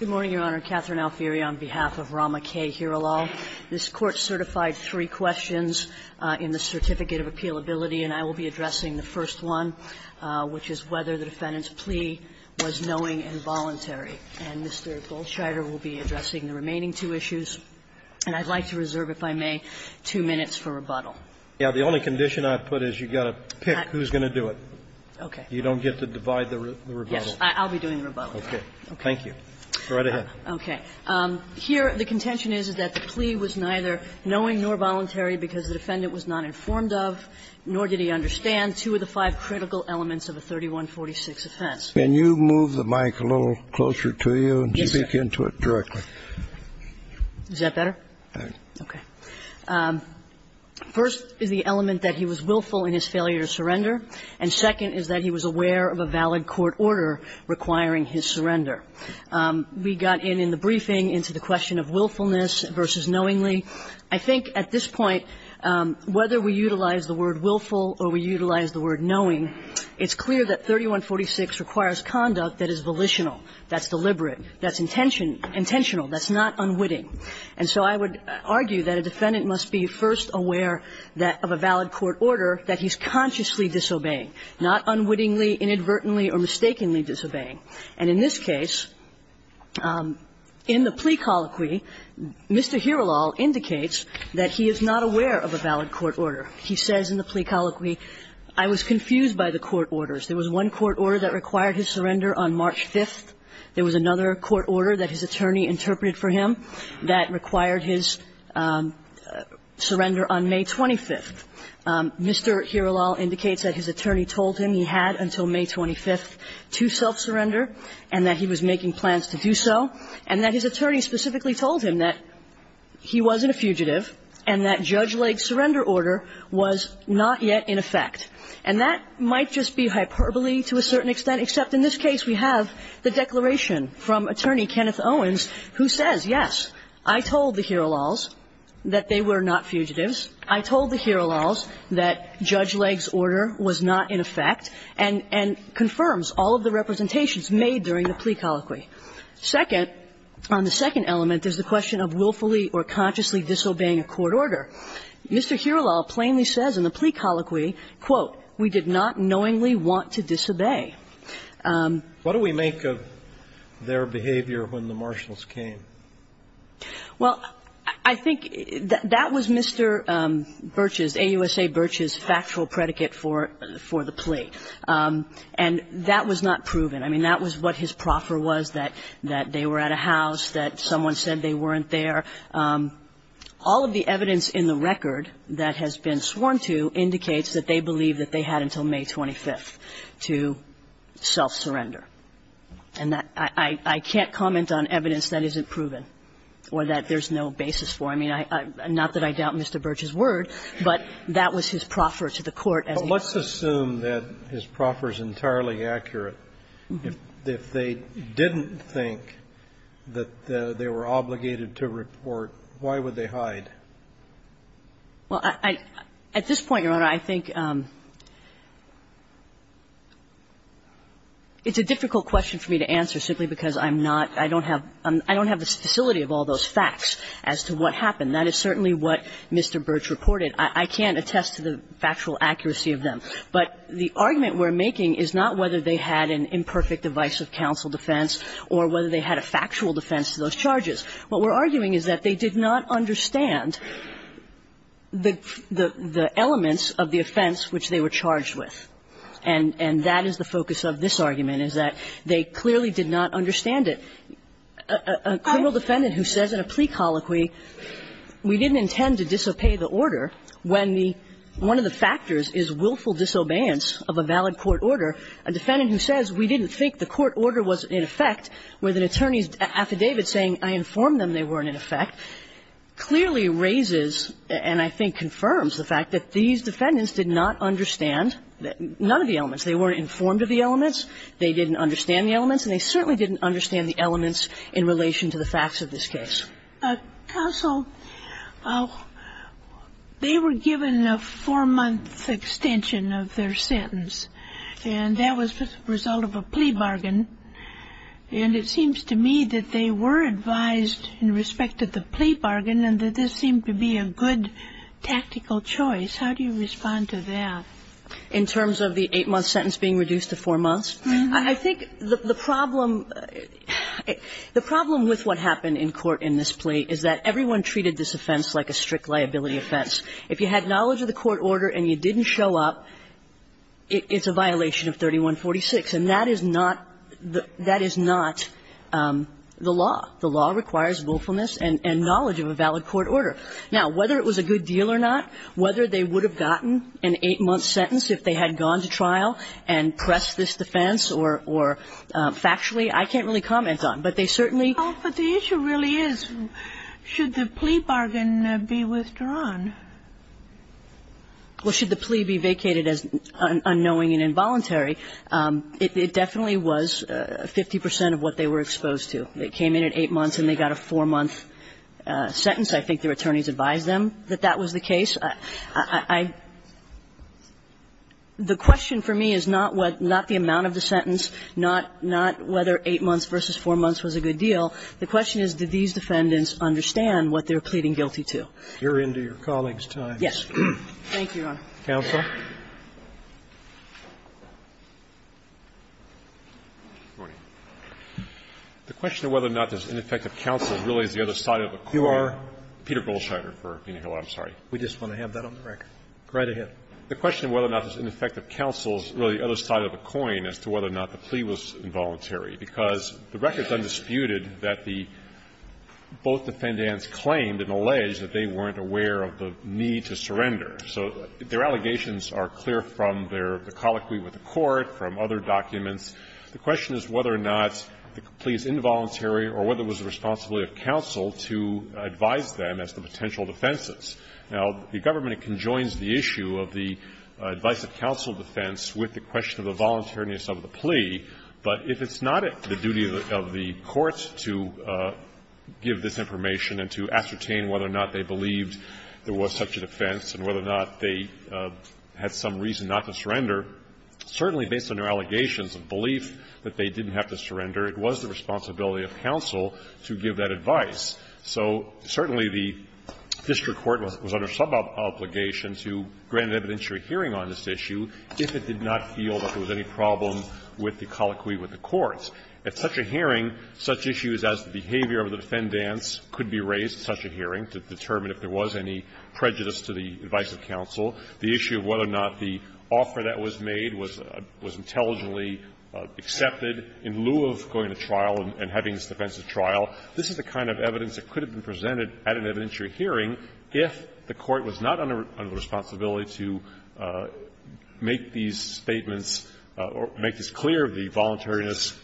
Good morning, Your Honor. Catherine Alfieri on behalf of Rama K. Hiralal. This Court certified three questions in the Certificate of Appealability, and I will be addressing the first one, which is whether the defendant's plea was knowing and voluntary. And Mr. Goldscheider will be addressing the remaining two issues. And I'd like to reserve, if I may, two minutes for rebuttal. Yeah, the only condition I've put is you've got to pick who's going to do it. Okay. Yes, I'll be doing the rebuttal. Okay, thank you. Go right ahead. Okay. Here, the contention is, is that the plea was neither knowing nor voluntary because the defendant was not informed of, nor did he understand, two of the five critical elements of a 3146 offense. Can you move the mic a little closer to you and speak into it directly? Yes, sir. Is that better? All right. Okay. First is the element that he was willful in his failure to surrender, and second is that he was aware of a valid court order requiring his surrender. We got in, in the briefing, into the question of willfulness versus knowingly. I think at this point, whether we utilize the word willful or we utilize the word knowing, it's clear that 3146 requires conduct that is volitional, that's deliberate, that's intentional, that's not unwitting. And so I would argue that a defendant must be first aware that of a valid court order that he's consciously disobeying, not unwittingly, inadvertently, or mistakenly disobeying. And in this case, in the plea colloquy, Mr. Hiralol indicates that he is not aware of a valid court order. He says in the plea colloquy, I was confused by the court orders. There was one court order that required his surrender on March 5th. There was another court order that his attorney interpreted for him that required his surrender on May 25th. Mr. Hiralol indicates that his attorney told him he had until May 25th to self-surrender and that he was making plans to do so, and that his attorney specifically told him that he wasn't a fugitive and that Judge Lake's surrender order was not yet in effect. And that might just be hyperbole to a certain extent, except in this case we have the declaration from Attorney Kenneth Owens who says, yes, I told the Hiralols that they were not fugitives. He says, I told the Hiralols that Judge Lake's order was not in effect, and confirms all of the representations made during the plea colloquy. Second, on the second element is the question of willfully or consciously disobeying a court order. Mr. Hiralol plainly says in the plea colloquy, quote, we did not knowingly want to disobey. What do we make of their behavior when the marshals came? Well, I think that was Mr. Birch's, AUSA Birch's, factual predicate for the plea. And that was not proven. I mean, that was what his proffer was, that they were at a house, that someone said they weren't there. All of the evidence in the record that has been sworn to indicates that they believe that they had until May 25th to self-surrender. And that I can't comment on evidence that isn't proven or that there's no basis for. I mean, not that I doubt Mr. Birch's word, but that was his proffer to the court as he asked. But let's assume that his proffer is entirely accurate. If they didn't think that they were obligated to report, why would they hide? Well, I at this point, Your Honor, I think it's a difficult question for me to answer simply because I'm not – I don't have the facility of all those facts as to what happened. That is certainly what Mr. Birch reported. I can't attest to the factual accuracy of them. But the argument we're making is not whether they had an imperfect device of counsel defense or whether they had a factual defense to those charges. What we're arguing is that they did not understand the elements of the offense which they were charged with. And that is the focus of this argument, is that they clearly did not understand it. A criminal defendant who says in a plea colloquy, we didn't intend to disobey the order, when the – one of the factors is willful disobedience of a valid court order. A defendant who says we didn't think the court order was in effect, with an attorney's I informed them they weren't in effect, clearly raises, and I think confirms, the fact that these defendants did not understand none of the elements. They weren't informed of the elements, they didn't understand the elements, and they certainly didn't understand the elements in relation to the facts of this case. Counsel, they were given a four-month extension of their sentence, and that was the I think the problem – the problem with what happened in court in this plea is that everyone treated this offense like a strict liability offense. If you had knowledge of the court order and you didn't show up, it's a violation of 3146, and that is not – that is not the law. The law requires willfulness and knowledge of a valid court order. Now, whether it was a good deal or not, whether they would have gotten an eight-month sentence if they had gone to trial and pressed this defense or – or factually, I can't really comment on. But they certainly – Well, but the issue really is, should the plea bargain be withdrawn? Well, should the plea be vacated as unknowing and involuntary? It definitely was 50 percent of what they were exposed to. They came in at eight months and they got a four-month sentence. I think their attorneys advised them that that was the case. I – the question for me is not what – not the amount of the sentence, not – not whether eight months versus four months was a good deal. The question is, did these defendants understand what they were pleading guilty to? You're into your colleagues' time. Yes. Thank you, Your Honor. Counsel. The question of whether or not this ineffective counsel really is the other side of a coin. You are? Peter Goldschneider for Penahill. I'm sorry. We just want to have that on the record. Right ahead. The question of whether or not this ineffective counsel is really the other side of a coin as to whether or not the plea was involuntary, because the record's undisputed that the – both defendants claimed and alleged that they weren't aware of the need to surrender. So their allegations are clear from their – the colloquy with the court, from other documents. The question is whether or not the plea is involuntary or whether it was the responsibility of counsel to advise them as to potential defenses. Now, the government conjoins the issue of the advice of counsel defense with the question of the voluntariness of the plea, but if it's not the duty of the courts to give this information and to ascertain whether or not they believed there was such a defense and whether or not they had some reason not to surrender, certainly based on their allegations of belief that they didn't have to surrender, it was the responsibility of counsel to give that advice. So certainly the district court was under some obligation to grant an evidentiary hearing on this issue if it did not feel that there was any problem with the colloquy with the courts. At such a hearing, such issues as the behavior of the defendants could be raised at such a hearing to determine if there was any prejudice to the advice of counsel, the issue of whether or not the offer that was made was intelligently accepted in lieu of going to trial and having this defensive trial, this is the kind of evidence that could have been presented at an evidentiary hearing if the court was not under the responsibility to make these statements or make this clear, the voluntariness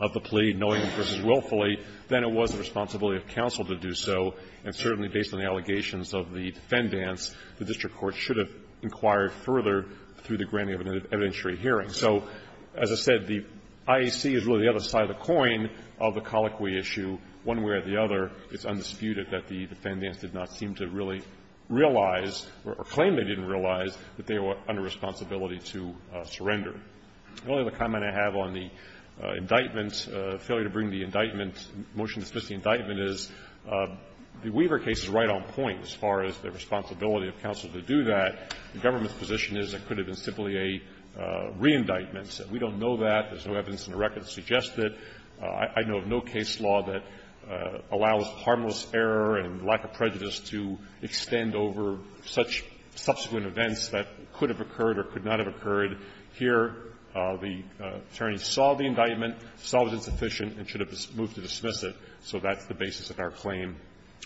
of the plea, knowingly versus willfully, then it was the responsibility of counsel to do so, and certainly based on the allegations of the defendants, the district court should have inquired further through the granting of an evidentiary hearing. So as I said, the IAC is really the other side of the coin of the colloquy issue. One way or the other, it's undisputed that the defendants did not seem to really realize or claim they didn't realize that they were under responsibility to surrender. The only other comment I have on the indictment, failure to bring the indictment into motion to dismiss the indictment, is the Weaver case is right on point as far as the responsibility of counsel to do that. The government's position is it could have been simply a re-indictment. We don't know that. There's no evidence in the record to suggest it. I know of no case law that allows harmless error and lack of prejudice to extend over such subsequent events that could have occurred or could not have occurred here. The attorneys saw the indictment, saw it was insufficient, and should have moved to dismiss it. So that's the basis of our claim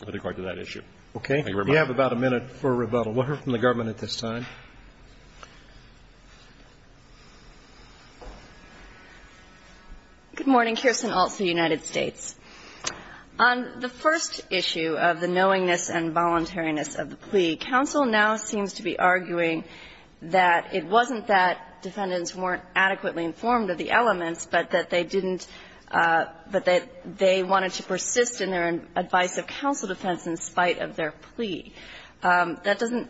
with regard to that issue. Thank you very much. Roberts. We have about a minute for rebuttal. We'll hear from the government at this time. Good morning. Kirsten Alt for the United States. On the first issue of the knowingness and voluntariness of the plea, counsel now seems to be arguing that it wasn't that defendants weren't adequately informed of the elements, but that they didn't – but that they wanted to persist in their advice of counsel defense in spite of their plea. That doesn't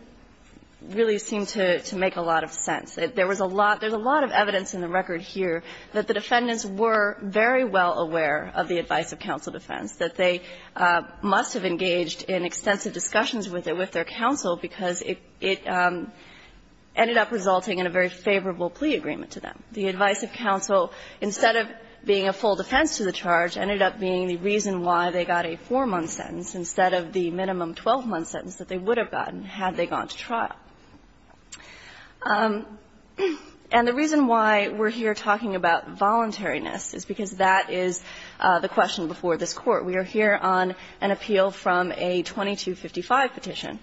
really seem to make a lot of sense. There was a lot – there's a lot of evidence in the record here that the defendants were very well aware of the advice of counsel defense, that they must have engaged in extensive discussions with it, with their counsel, because it – it ended up resulting in a very favorable plea agreement to them. The advice of counsel, instead of being a full defense to the charge, ended up being the reason why they got a 4-month sentence instead of the minimum 12-month sentence that they would have gotten had they gone to trial. And the reason why we're here talking about voluntariness is because that is the question before this Court. We are here on an appeal from a 2255 petition,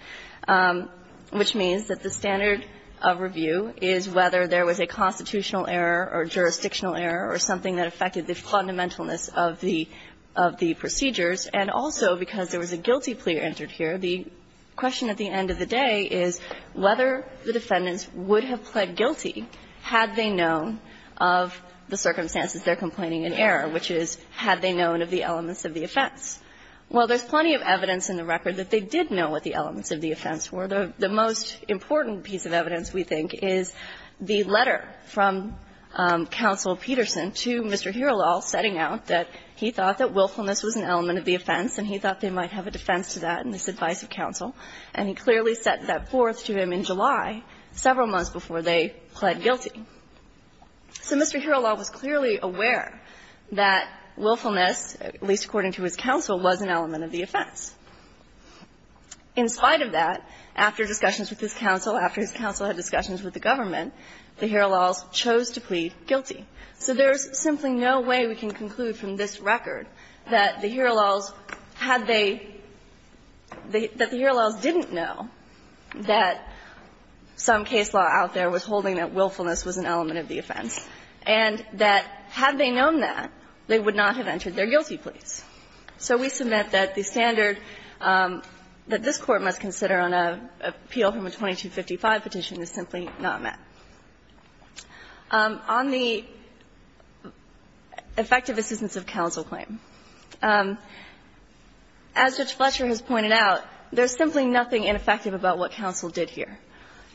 which means that the standard of review is whether there was a constitutional error or jurisdictional error or something that affected the fundamentalness of the – of the procedures. And also, because there was a guilty plea entered here, the question at the end of the day is whether the defendants would have pled guilty had they known of the circumstances they're complaining in error, which is had they known of the elements of the offense. Well, there's plenty of evidence in the record that they did know what the elements of the offense were. The most important piece of evidence, we think, is the letter from Counsel Peterson to Mr. Herolal setting out that he thought that willfulness was an element of the offense and he thought they might have a defense to that in this advice of counsel, and he clearly set that forth to him in July, several months before they pled guilty. So Mr. Herolal was clearly aware that willfulness, at least according to his counsel, was an element of the offense. In spite of that, after discussions with his counsel, after his counsel had discussions with the government, the Herolals chose to plead guilty. So there's simply no way we can conclude from this record that the Herolals had they – that the Herolals didn't know that some case law out there was holding that willfulness was an element of the offense, and that had they known that, they would not have entered their guilty pleas. So we submit that the standard that this Court must consider on an appeal from a 2255 petition is simply not met. On the effective assistance of counsel claim, as Judge Fletcher has pointed out, there's simply nothing ineffective about what counsel did here.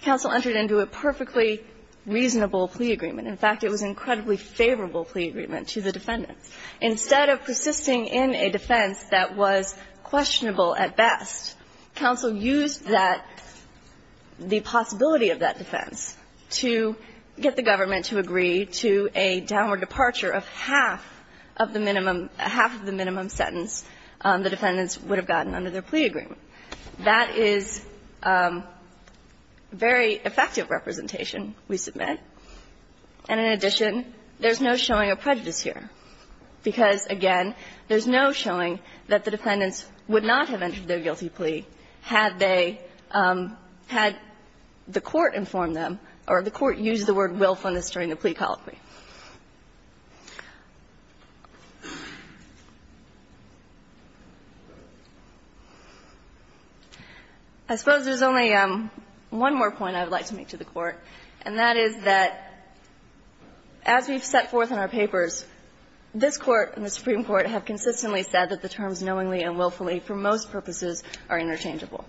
Counsel entered into a perfectly reasonable plea agreement. In fact, it was an incredibly favorable plea agreement to the defendants. Instead of persisting in a defense that was questionable at best, counsel used that – the possibility of that defense to get the government to agree to a downward departure of half of the minimum – half of the minimum sentence the defendants would have gotten under their plea agreement. That is very effective representation, we submit. And in addition, there's no showing of prejudice here, because, again, there's no showing that the defendants would not have entered their guilty plea had they – had the Court inform them or the Court use the word willfulness during the plea colloquy. I suppose there's only one more point I would like to make to the Court, and that is that as we've set forth in our papers, this Court and the Supreme Court have consistently said that the terms knowingly and willfully for most purposes are interchangeable.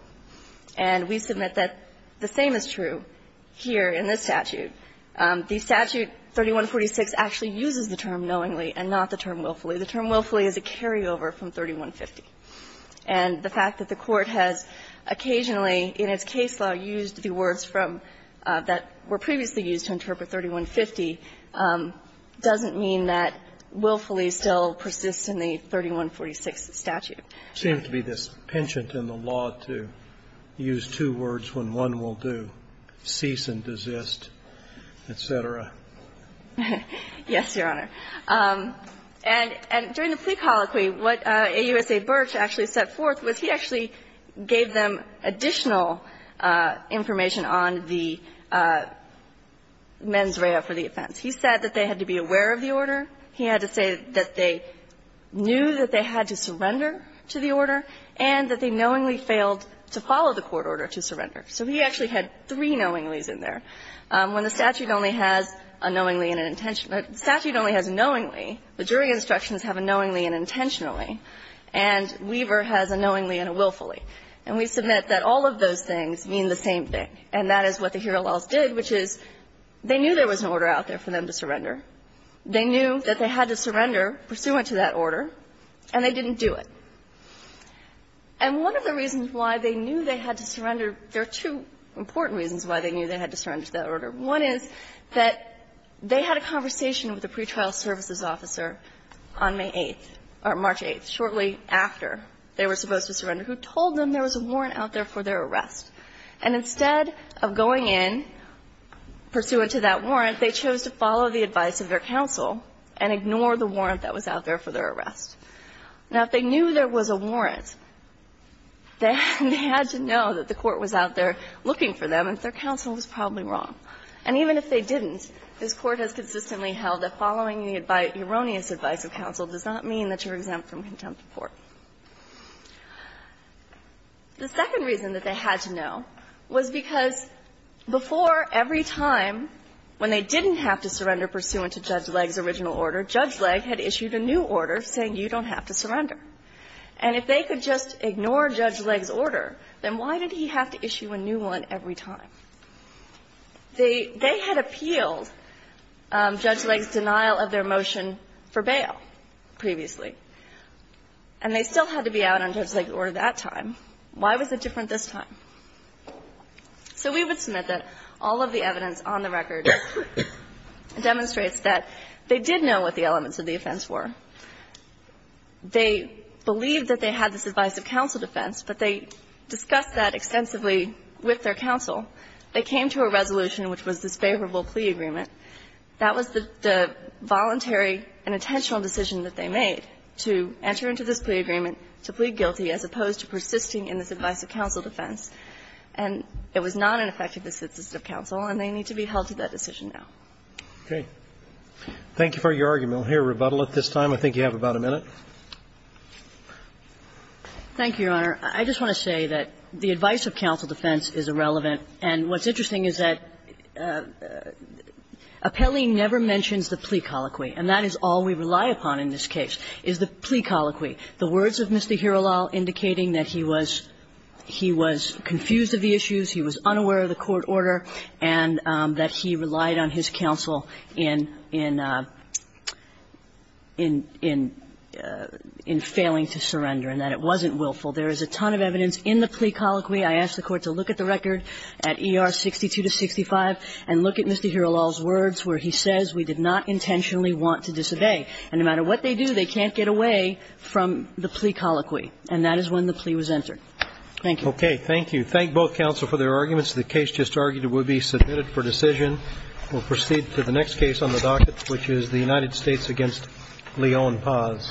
And we submit that the same is true here in this statute. The statute 3146 actually uses the term knowingly and not the term willfully. The term willfully is a carryover from 3150. And the fact that the Court has occasionally in its case law used the words from – that were previously used to interpret 3150 doesn't mean that willfully still persists in the 3146 statute. It seems to be dispensant in the law to use two words when one will do, cease and desist, et cetera. Yes, Your Honor. And during the plea colloquy, what AUSA Birch actually set forth was he actually gave them additional information on the mens rea for the offense. He had to say that they knew that they had to surrender to the order and that they knowingly failed to follow the court order to surrender. So he actually had three knowingly's in there. When the statute only has a knowingly and an intention – the statute only has a knowingly, but jury instructions have a knowingly and an intentionally, and Weaver has a knowingly and a willfully. And we submit that all of those things mean the same thing, and that is what the Hero Laws did, which is they knew there was an order out there for them to surrender. They knew that they had to surrender pursuant to that order, and they didn't do it. And one of the reasons why they knew they had to surrender – there are two important reasons why they knew they had to surrender to that order. One is that they had a conversation with a pretrial services officer on May 8th or March 8th, shortly after they were supposed to surrender, who told them there was a warrant out there for their arrest, and instead of going in pursuant to that order, they had to follow the erroneous advice of their counsel and ignore the warrant that was out there for their arrest. Now, if they knew there was a warrant, they had to know that the court was out there looking for them and that their counsel was probably wrong. And even if they didn't, this Court has consistently held that following the erroneous advice of counsel does not mean that you're exempt from contempt of court. The second reason that they had to know was because before every time when they didn't have to surrender pursuant to Judge Legg's original order, Judge Legg had issued a new order saying you don't have to surrender. And if they could just ignore Judge Legg's order, then why did he have to issue a new one every time? They – they had appealed Judge Legg's denial of their motion for bail previously, and they still had to be out on Judge Legg's order that time. Why was it different this time? So we would submit that all of the evidence on the record demonstrates that they did know what the elements of the offense were. They believed that they had this advice of counsel defense, but they discussed that extensively with their counsel. They came to a resolution which was this favorable plea agreement. That was the voluntary and intentional decision that they made, to enter into this plea agreement to plead guilty as opposed to persisting in this advice of counsel defense. And it was not an effective decision of counsel, and they need to be held to that decision now. Okay. Thank you for your argument. I'll hear rebuttal at this time. I think you have about a minute. Thank you, Your Honor. I just want to say that the advice of counsel defense is irrelevant. And what's interesting is that Appelli never mentions the plea colloquy, and that is all we rely upon in this case, is the plea colloquy. The words of Mr. Hirolal indicating that he was confused of the issues, he was unaware of the court order, and that he relied on his counsel in failing to surrender and that it wasn't willful. There is a ton of evidence in the plea colloquy. I ask the Court to look at the record at ER 62 to 65 and look at Mr. Hirolal's words where he says we did not intentionally want to disobey. And no matter what they do, they can't get away from the plea colloquy. And that is when the plea was entered. Thank you. Okay. Thank you. Thank both counsel for their arguments. The case just argued will be submitted for decision. We'll proceed to the next case on the docket, which is the United States v. Leon Paz.